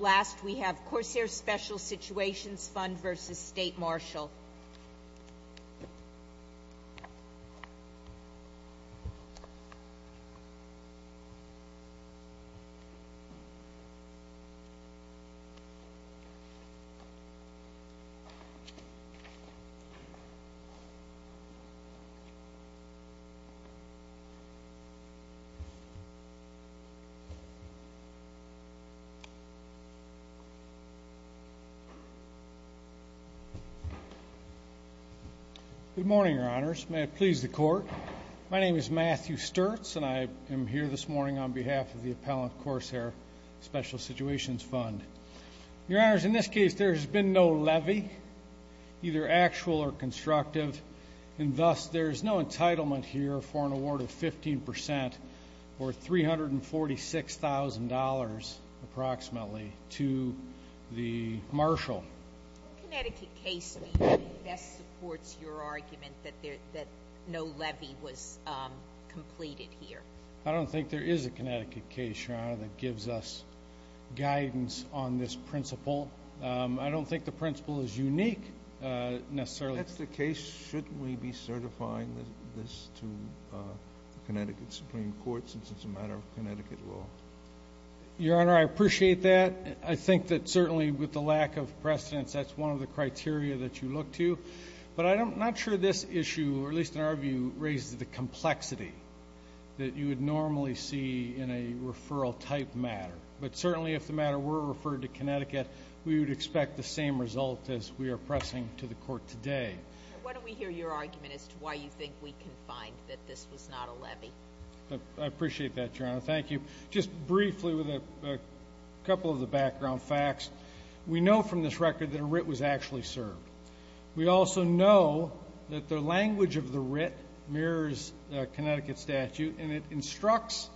Last, we have Corsair Special Situations Fund versus State Marshal. Good morning, Your Honors. May it please the Court, my name is Matthew Sturtz and I am here this morning on behalf of the Appellant Corsair Special Situations Fund. Your Honors, in this case there has been no levy, either actual or constructive, and thus there is no entitlement here for an award of 15% or $346,000 approximately to the Marshal. What Connecticut case do you think best supports your argument that no levy was completed here? I don't think there is a Connecticut case, Your Honor, that gives us guidance on this principle. I don't think the principle is unique, necessarily. If that's the case, shouldn't we be certifying this to Connecticut Supreme Court since it's a matter of Connecticut law? Your Honor, I appreciate that. I think that certainly with the lack of precedence, that's one of the criteria that you look to. But I'm not sure this issue, or at least in our view, raises the complexity that you would normally see in a referral type matter. But certainly if the matter were referred to Connecticut, we would expect the same result as we are pressing to the court today. Why don't we hear your argument as to why you think we can find that this was not a levy? I appreciate that, Your Honor. Thank you. Just briefly with a couple of the background facts, we know from this record that a writ was actually served. We also know that the language of the writ mirrors Connecticut statute, and it instructs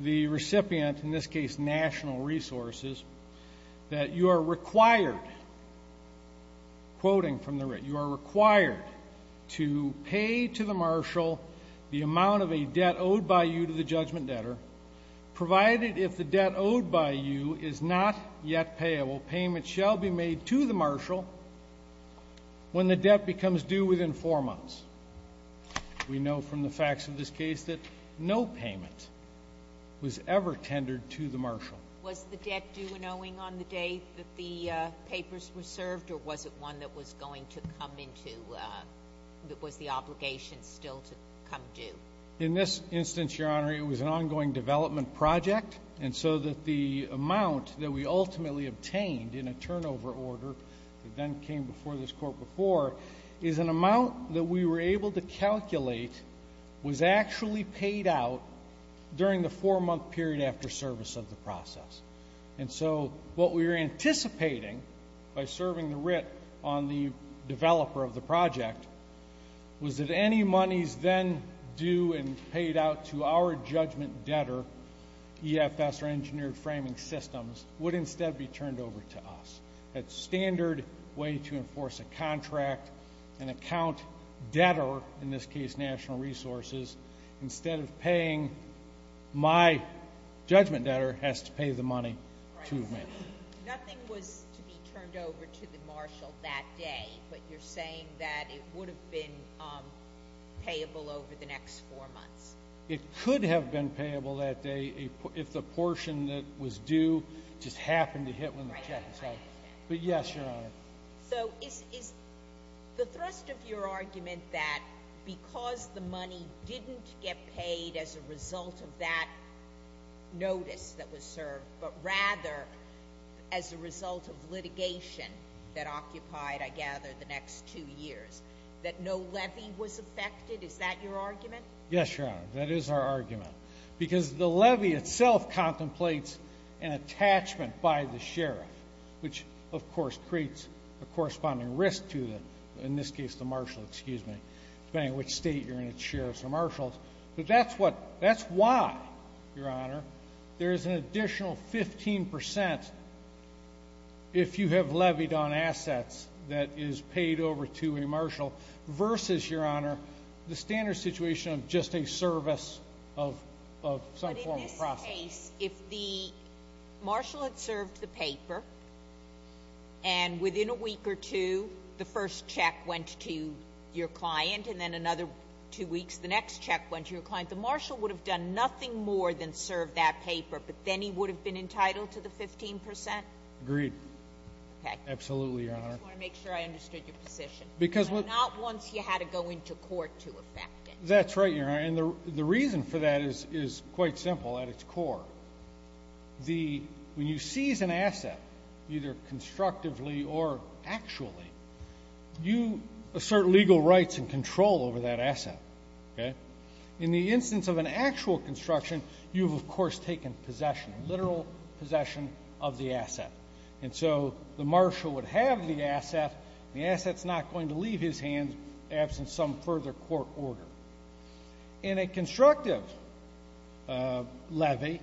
the recipient, in this case National Resources, that you are required, quoting from the writ, you are required to pay to the marshal the amount of a debt owed by you to the judgment debtor, provided if the debt owed by you is not yet payable. Payment shall be made to the marshal when the debt becomes due within four months. We know from the facts of this case that no payment was ever tendered to the marshal. Was the debt due and owing on the day that the papers were served, or was it one that was going to come into, that was the obligation still to come due? In this instance, Your Honor, it was an ongoing development project, and so that the amount that we ultimately obtained in a turnover order that then came before this court before this court is an amount that we were able to calculate was actually paid out during the four-month period after service of the process. And so what we were anticipating by serving the writ on the developer of the project was that any monies then due and paid out to our judgment debtor, EFS, or Engineered Framing Systems, would instead be turned over to us. That standard way to enforce a contract, an account debtor, in this case National Resources, instead of paying my judgment debtor has to pay the money to me. Nothing was to be turned over to the marshal that day, but you're saying that it would have been payable over the next four months? It could have been payable that day if the portion that was due just happened to hit the jackpot. But yes, Your Honor. So is the thrust of your argument that because the money didn't get paid as a result of that notice that was served, but rather as a result of litigation that occupied, I gather, the next two years, that no levy was affected? Is that your argument? Yes, Your Honor, that is our argument. Because the levy itself contemplates an attachment by the sheriff, which of course creates a corresponding risk to the, in this case, the marshal, excuse me, depending on which state you're in, it's sheriffs or marshals. But that's what, that's why, Your Honor, there is an additional 15% if you have levied on assets that is paid over to a marshal versus, Your Honor, the standard situation of just a service of some formal process. But in this case, if the marshal had served the paper, and within a week or two, the first check went to your client, and then another two weeks, the next check went to your client, the marshal would have done nothing more than serve that paper, but then he would have been entitled to the 15%? Agreed. Okay. Absolutely, Your Honor. I just want to make sure I understood your position. Not once you had to go into court to affect it. That's right, Your Honor. And the reason for that is quite simple at its core. The, when you seize an asset, either constructively or actually, you assert legal rights and control over that asset, okay? In the instance of an actual construction, you've, of course, taken possession, literal possession of the asset. And so the marshal would have the asset, and the asset's not going to leave his hands absent some further court order. In a constructive levy,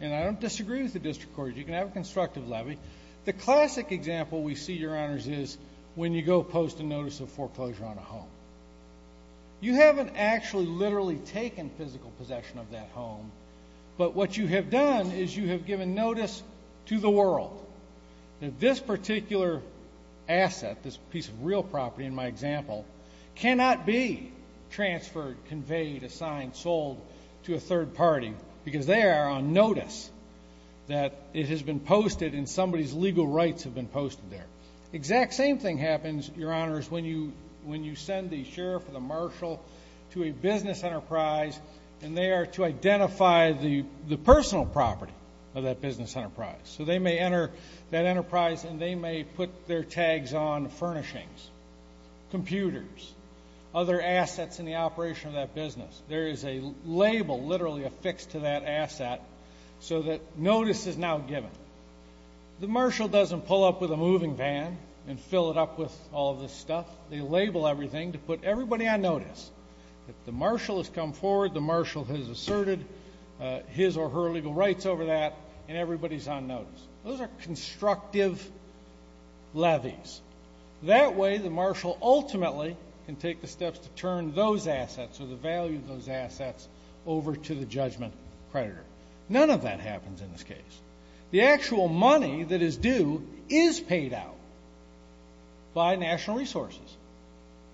and I don't disagree with the district court, you can have a constructive levy. The classic example we see, Your Honors, is when you go post a notice of foreclosure on a home. You haven't actually literally taken physical possession of that home, but what you have done is you have given notice to the world that this particular asset, this piece of real property in my example, cannot be transferred, conveyed, assigned, sold to a third party because they are on notice that it has been posted and somebody's legal rights have been posted there. The exact same thing happens, Your Honors, when you send the sheriff or the marshal to a business enterprise and they are to identify the personal property of that business enterprise. So they may enter that enterprise and they may put their tags on furnishings, computers, other assets in the operation of that business. There is a label literally affixed to that asset so that notice is now given. The marshal doesn't pull up with a moving van and fill it up with all this stuff. They label everything to put everybody on notice. If the marshal has come forward, the marshal has asserted his or her legal rights over that and everybody is on notice. Those are constructive levies. That way the marshal ultimately can take the steps to turn those assets or the value of those assets over to the judgment creditor. None of that happens in this case. The actual money that is due is paid out by National Resources.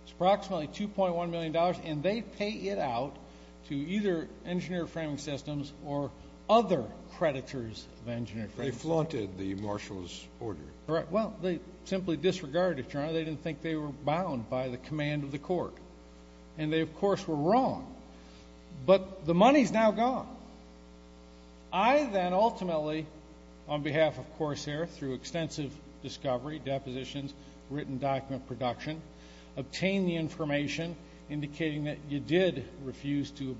It's approximately $2.1 million, and they pay it out to either Engineer Framing Systems or other creditors of Engineer Framing Systems. They flaunted the marshal's order. Correct. Well, they simply disregarded it, Your Honor. They didn't think they were bound by the command of the court. And they, of course, were wrong. But the money is now gone. I then ultimately, on behalf of Corsair, through extensive discovery, depositions, written document production, obtained the information indicating that you did refuse to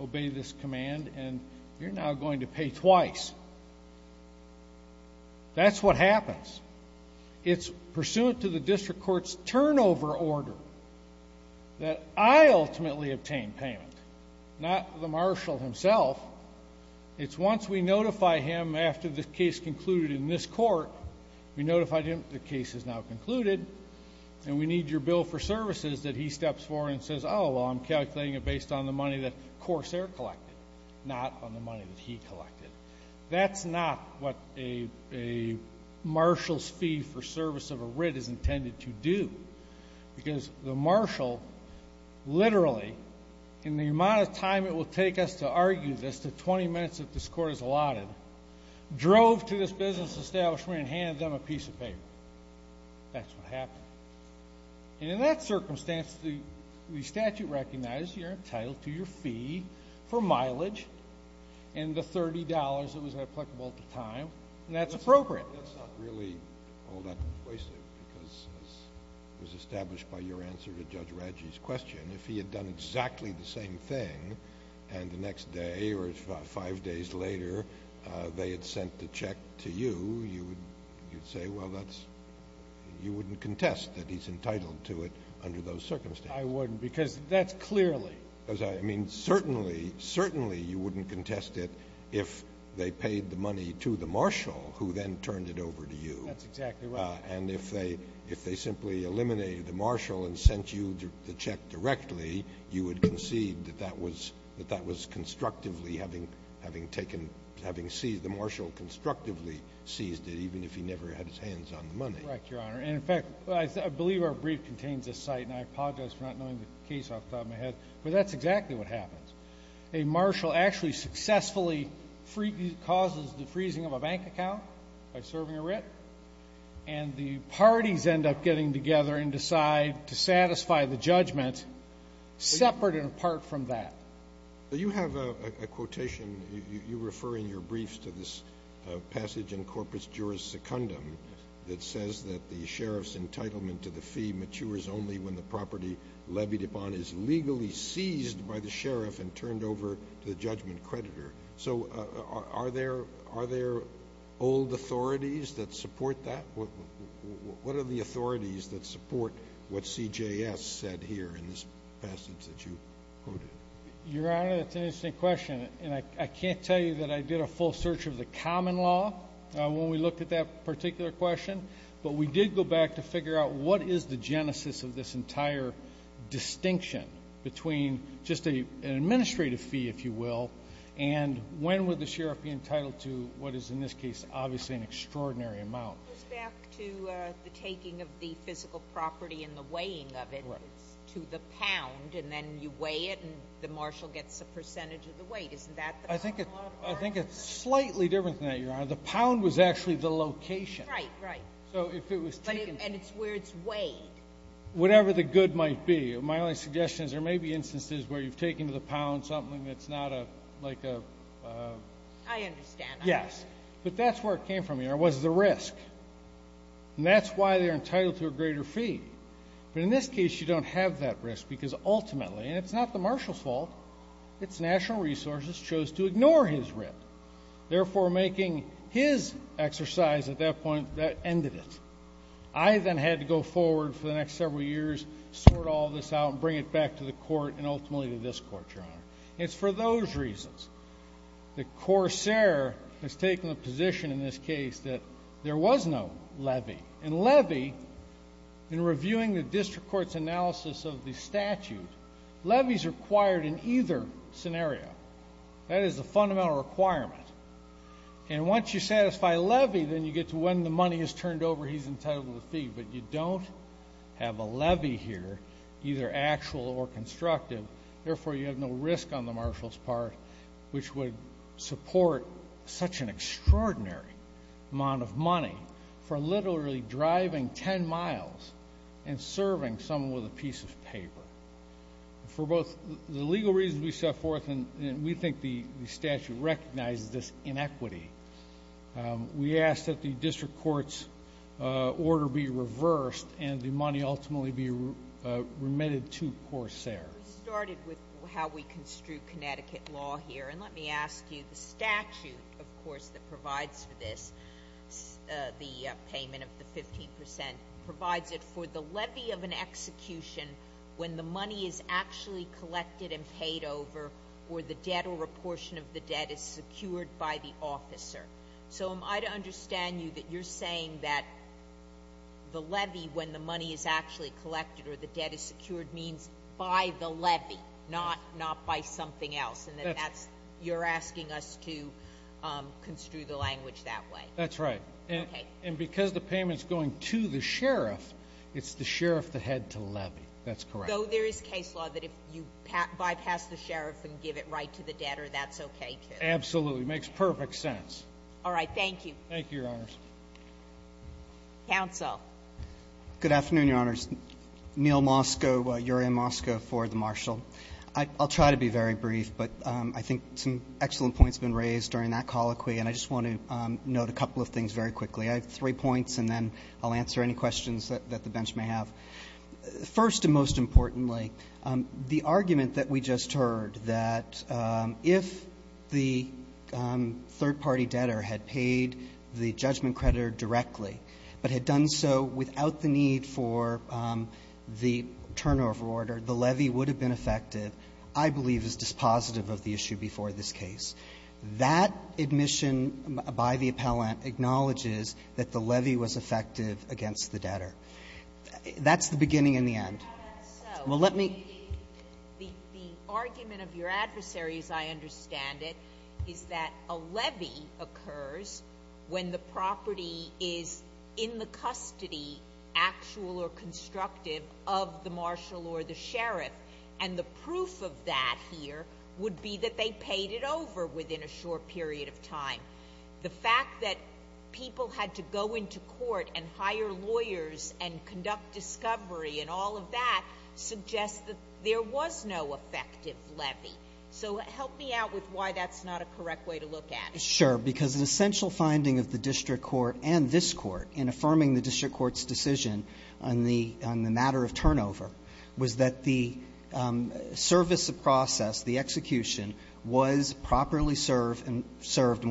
obey this command and you're now going to pay twice. That's what happens. It's pursuant to the district court's turnover order that I ultimately obtained payment, not the marshal himself. It's once we notify him after the case concluded in this court, we notify him the case is now concluded, and we need your bill for services that he steps forward and says, oh, well, I'm calculating it based on the money that Corsair collected, not on the money that he collected. That's not what a marshal's fee for service of a writ is intended to do because the marshal literally, in the amount of time it will take us to argue this, the 20 minutes that this court has allotted, drove to this business establishment and handed them a piece of paper. That's what happened. And in that circumstance, the statute recognizes you're entitled to your fee for mileage and the $30 that was applicable at the time, and that's appropriate. That's not really all that persuasive because it was established by your answer to Judge Radji's question. If he had done exactly the same thing and the next day or five days later they had sent the check to you, you would say, well, that's you wouldn't contest that he's entitled to it under those circumstances. I wouldn't because that's clearly. I mean, certainly, certainly you wouldn't contest it if they paid the money to the marshal who then turned it over to you. That's exactly right. And if they simply eliminated the marshal and sent you the check directly, you would concede that that was constructively having taken, having seized, the marshal constructively seized it even if he never had his hands on the money. Correct, Your Honor. And, in fact, I believe our brief contains this site, and I apologize for not knowing the case off the top of my head, but that's exactly what happens. A marshal actually successfully causes the freezing of a bank account by serving a writ, and the parties end up getting together and decide to satisfy the judgment separate and apart from that. You have a quotation. You refer in your briefs to this passage in Corpus Juris Secundum that says that the sheriff's entitlement to the fee matures only when the property levied upon is legally seized by the sheriff and turned over to the judgment creditor. So are there old authorities that support that? What are the authorities that support what CJS said here in this passage that you quoted? Your Honor, that's an interesting question, and I can't tell you that I did a full search of the common law when we looked at that particular question, but we did go back to figure out what is the genesis of this entire distinction between just an administrative fee, if you will, and when would the sheriff be entitled to what is in this case obviously an extraordinary amount. It goes back to the taking of the physical property and the weighing of it to the pound, and then you weigh it and the marshal gets a percentage of the weight. Isn't that the common law? I think it's slightly different than that, Your Honor. The pound was actually the location. Right, right. So if it was taken. And it's where it's weighed. Whatever the good might be. My only suggestion is there may be instances where you've taken to the pound something that's not a, like a... I understand. Yes. But that's where it came from, Your Honor, was the risk. And that's why they're entitled to a greater fee. But in this case, you don't have that risk because ultimately, and it's not the marshal's fault, it's national resources chose to ignore his writ. Therefore, making his exercise at that point, that ended it. I then had to go forward for the next several years, sort all this out and bring it back to the court and ultimately to this court, Your Honor. It's for those reasons that Corsair has taken the position in this case that there was no levy. And levy, in reviewing the district court's analysis of the statute, levy is required in either scenario. That is a fundamental requirement. And once you satisfy levy, then you get to when the money is turned over, he's entitled to the fee. But you don't have a levy here, either actual or constructive. Therefore, you have no risk on the marshal's part, which would support such an extraordinary amount of money for literally driving 10 miles and serving someone with a piece of paper. For both the legal reasons we set forth, and we think the statute recognizes this inequity, we ask that the district court's order be reversed and the money ultimately be remitted to Corsair. We started with how we construe Connecticut law here. And let me ask you, the statute, of course, that provides for this, the payment of the 15 percent, provides it for the levy of an execution when the money is actually collected and paid over or the debt or a portion of the debt is secured by the officer. So am I to understand you that you're saying that the levy, when the money is actually collected or the debt is secured, means by the levy, not by something else, and that you're asking us to construe the language that way? That's right. Okay. And because the payment is going to the sheriff, it's the sheriff that had to levy. That's correct. So there is case law that if you bypass the sheriff and give it right to the debtor, that's okay, too? Absolutely. It makes perfect sense. All right. Thank you. Thank you, Your Honors. Counsel. Good afternoon, Your Honors. Neil Mosko, Yuri Mosko for the Marshal. I'll try to be very brief, but I think some excellent points have been raised during that colloquy, and I just want to note a couple of things very quickly. I have three points, and then I'll answer any questions that the bench may have. First and most importantly, the argument that we just heard that if the third-party debtor had paid the judgment creditor directly but had done so without the need for the turnover order, the levy would have been effective, I believe is dispositive of the issue before this case. That admission by the appellant acknowledges that the levy was effective against the debtor. That's the beginning and the end. Well, that's so. Well, let me. The argument of your adversary, as I understand it, is that a levy occurs when the property is in the custody, actual or constructive, of the marshal or the sheriff, and the proof of that here would be that they paid it over within a short period of time. The fact that people had to go into court and hire lawyers and conduct discovery and all of that suggests that there was no effective levy. So help me out with why that's not a correct way to look at it. Sure. Because an essential finding of the district court and this Court in affirming the district court's decision on the matter of turnover was that the service of process, the execution, was properly served and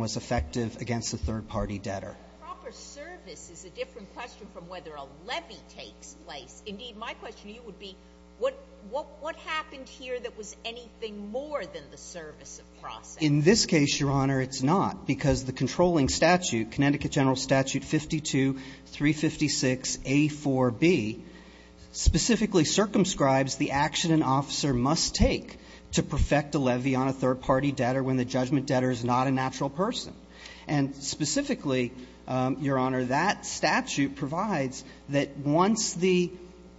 was effective against the third-party debtor. Proper service is a different question from whether a levy takes place. Indeed, my question to you would be what happened here that was anything more than the service of process? In this case, Your Honor, it's not, because the controlling statute, Connecticut General Statute 52-356a-4b, specifically circumscribes the action an officer must take to perfect a levy on a third-party debtor when the judgment debtor is not a natural person. And specifically, Your Honor, that statute provides that once the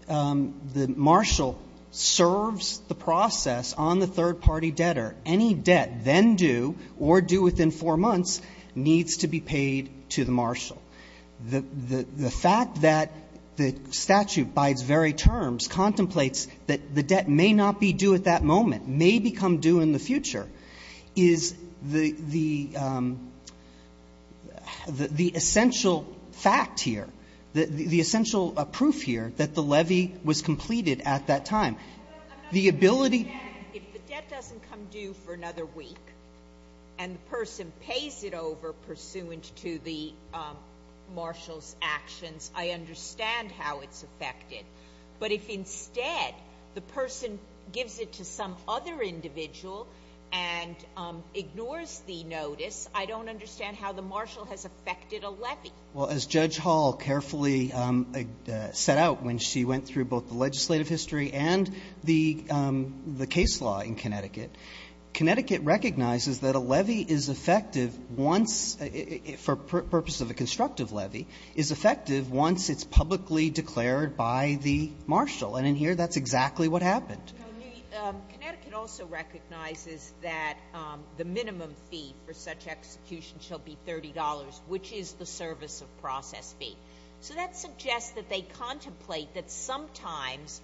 marshal serves the process on the third-party debtor, any debt then due or due within four months needs to be paid to the marshal. The fact that the statute, by its very terms, contemplates that the debt may not be due at that moment, may become due in the future, is the essential fact here, the essential proof here that the levy was completed at that time. The ability to say, if the debt doesn't come due for another week and the person pays it over pursuant to the marshal's actions, I understand how it's affected. But if instead the person gives it to some other individual and ignores the notice, I don't understand how the marshal has affected a levy. Well, as Judge Hall carefully set out when she went through both the legislative history and the case law in Connecticut, Connecticut recognizes that a levy is effective once, for purpose of a constructive levy, is effective once it's publicly declared by the marshal. And in here, that's exactly what happened. Connecticut also recognizes that the minimum fee for such execution shall be $30, which is the service of process fee. So that suggests that they contemplate that sometimes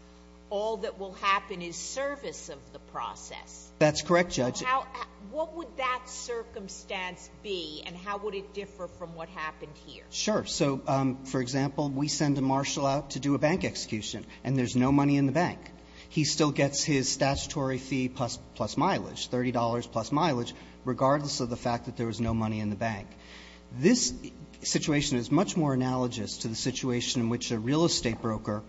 all that will happen is service of the process. That's correct, Judge. What would that circumstance be and how would it differ from what happened here? Sure. So, for example, we send a marshal out to do a bank execution and there's no money in the bank. He still gets his statutory fee plus mileage, $30 plus mileage, regardless of the fact that there was no money in the bank. This situation is much more analogous to the situation in which a real estate broker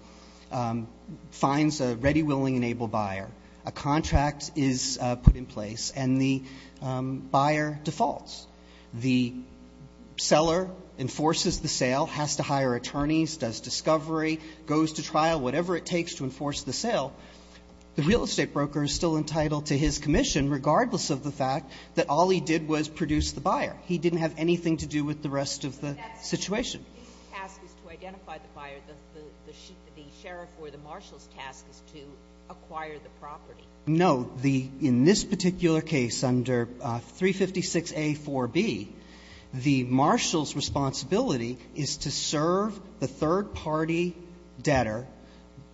finds a ready, willing, and able buyer. A contract is put in place and the buyer defaults. The seller enforces the sale, has to hire attorneys, does discovery, goes to trial, whatever it takes to enforce the sale. The real estate broker is still entitled to his commission, regardless of the fact that all he did was produce the buyer. He didn't have anything to do with the rest of the situation. The task is to identify the buyer. The sheriff or the marshal's task is to acquire the property. No. In this particular case, under 356A.4b, the marshal's responsibility is to serve the third-party debtor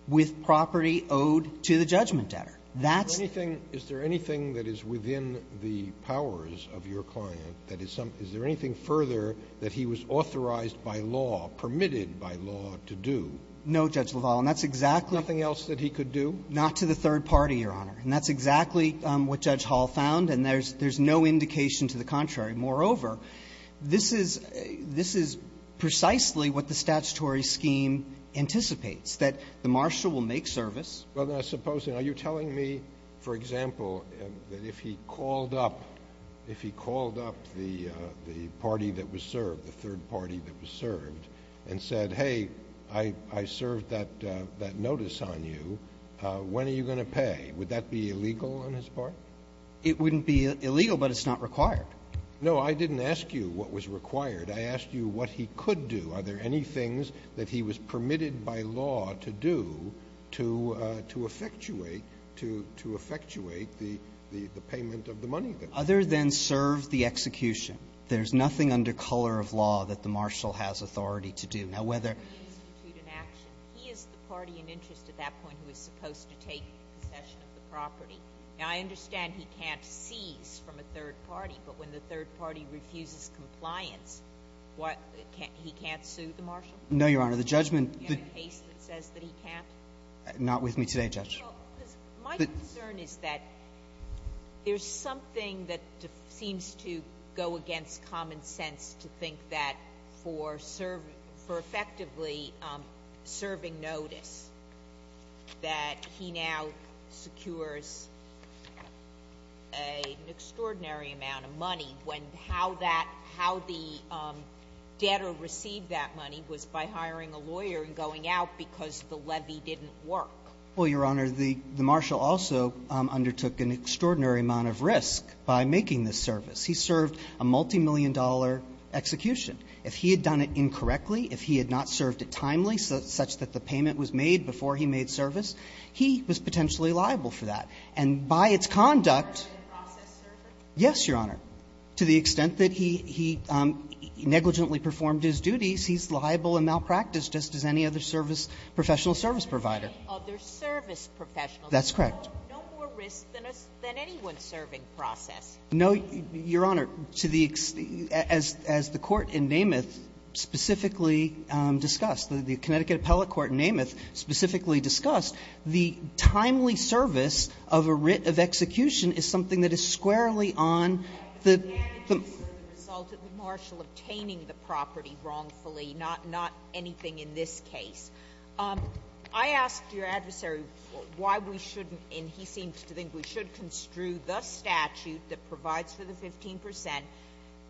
with property owed to the judgment debtor. That's the thing. Roberts, is there anything that is within the powers of your client that is some – is there anything further that he was authorized by law, permitted by law, to do? No, Judge LaValle, and that's exactly – Nothing else that he could do? Not to the third party, Your Honor. And that's exactly what Judge Hall found, and there's no indication to the contrary. Moreover, this is precisely what the statutory scheme anticipates, that the marshal will make service. Well, now, suppose – are you telling me, for example, that if he called up – if he called up the party that was served, the third party that was served, and said, hey, I served that notice on you, when are you going to pay? Would that be illegal on his part? It wouldn't be illegal, but it's not required. No, I didn't ask you what was required. I asked you what he could do. Are there any things that he was permitted by law to do to effectuate – to effectuate the payment of the money there? Other than serve the execution, there's nothing under color of law that the marshal has authority to do. Now, whether – He is the party in interest at that point who is supposed to take possession of the property. Now, I understand he can't seize from a third party, but when the third party refuses compliance, what – he can't sue the marshal? No, Your Honor. The judgment – Do you have a case that says that he can't? Not with me today, Judge. Well, my concern is that there's something that seems to go against common sense to think that for serve – for effectively serving notice, that he now secures an extraordinary amount of money when how that – how the debtor received that money was by hiring a lawyer and going out because the levy didn't work. Well, Your Honor, the marshal also undertook an extraordinary amount of risk by making this service. He served a multimillion-dollar execution. If he had done it incorrectly, if he had not served it timely, such that the payment was made before he made service, he was potentially liable for that. And by its conduct – Are you referring to process service? Yes, Your Honor. To the extent that he negligently performed his duties, he's liable and malpracticed just as any other service – professional service provider. Other service professionals. That's correct. No more risk than anyone serving process. No, Your Honor. To the – as the Court in Nameth specifically discussed, the Connecticut Appellate Court in Nameth specifically discussed, the timely service of a writ of execution is something that is squarely on the – But the damages are the result of the marshal obtaining the property wrongfully, not anything in this case. I asked your adversary why we shouldn't, and he seems to think we should, construe the statute that provides for the 15 percent,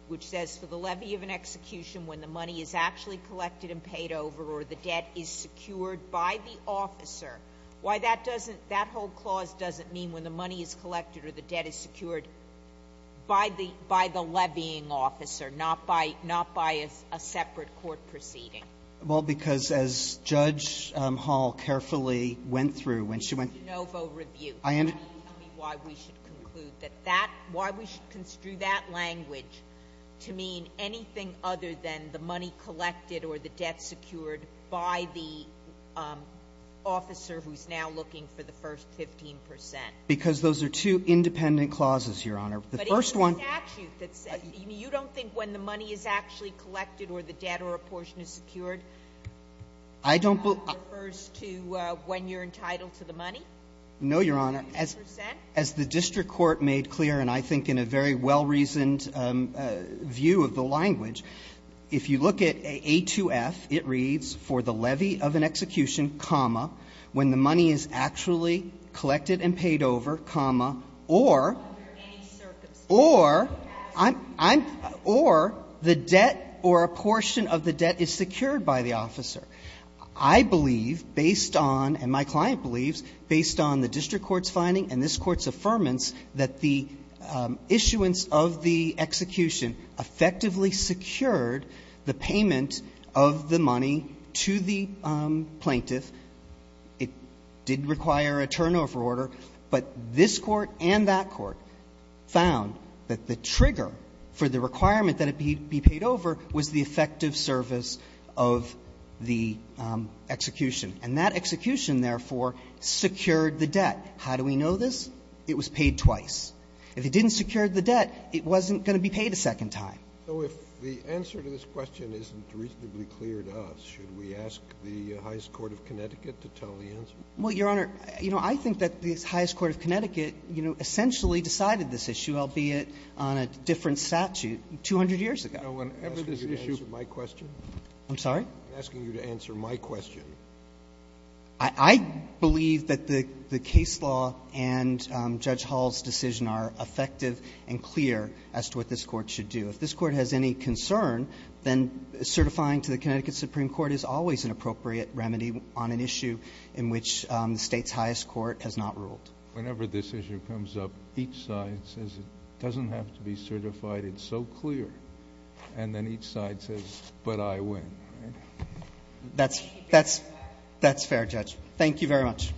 which says for the levy of an execution when the money is actually collected and paid over or the debt is secured by the officer. Why that doesn't – that whole clause doesn't mean when the money is collected or the debt is secured by the – by the levying officer, not by – not by a separate court proceeding. Well, because as Judge Hall carefully went through when she went – De novo review. I – Can you tell me why we should conclude that that – why we should construe that language to mean anything other than the money collected or the debt secured by the officer who's now looking for the first 15 percent? Because those are two independent clauses, Your Honor. The first one – But it's the statute that says – you don't think when the money is actually collected or the debt or a portion is secured – I don't –– refers to when you're entitled to the money? No, Your Honor. 15 percent? As the district court made clear, and I think in a very well-reasoned view of the language, if you look at A2F, it reads, for the levy of an execution, comma, when the money is actually collected and paid over, comma, or – Under any circumstance. Or I'm – I'm – or the debt or a portion of the debt is secured by the officer. I believe, based on – and my client believes, based on the district court's claim and this Court's affirmance that the issuance of the execution effectively secured the payment of the money to the plaintiff. It did require a turnover order, but this Court and that Court found that the trigger for the requirement that it be – be paid over was the effective service of the execution. And that execution, therefore, secured the debt. How do we know this? It was paid twice. If it didn't secure the debt, it wasn't going to be paid a second time. So if the answer to this question isn't reasonably clear to us, should we ask the highest court of Connecticut to tell the answer? Well, Your Honor, you know, I think that the highest court of Connecticut, you know, essentially decided this issue, albeit on a different statute, 200 years ago. You know, whenever this issue – I'm asking you to answer my question. I'm sorry? I'm asking you to answer my question. I believe that the case law and Judge Hall's decision are effective and clear as to what this Court should do. If this Court has any concern, then certifying to the Connecticut Supreme Court is always an appropriate remedy on an issue in which the State's highest court has not ruled. Whenever this issue comes up, each side says it doesn't have to be certified, it's so clear. And then each side says, but I win. That's fair, Judge. Thank you very much.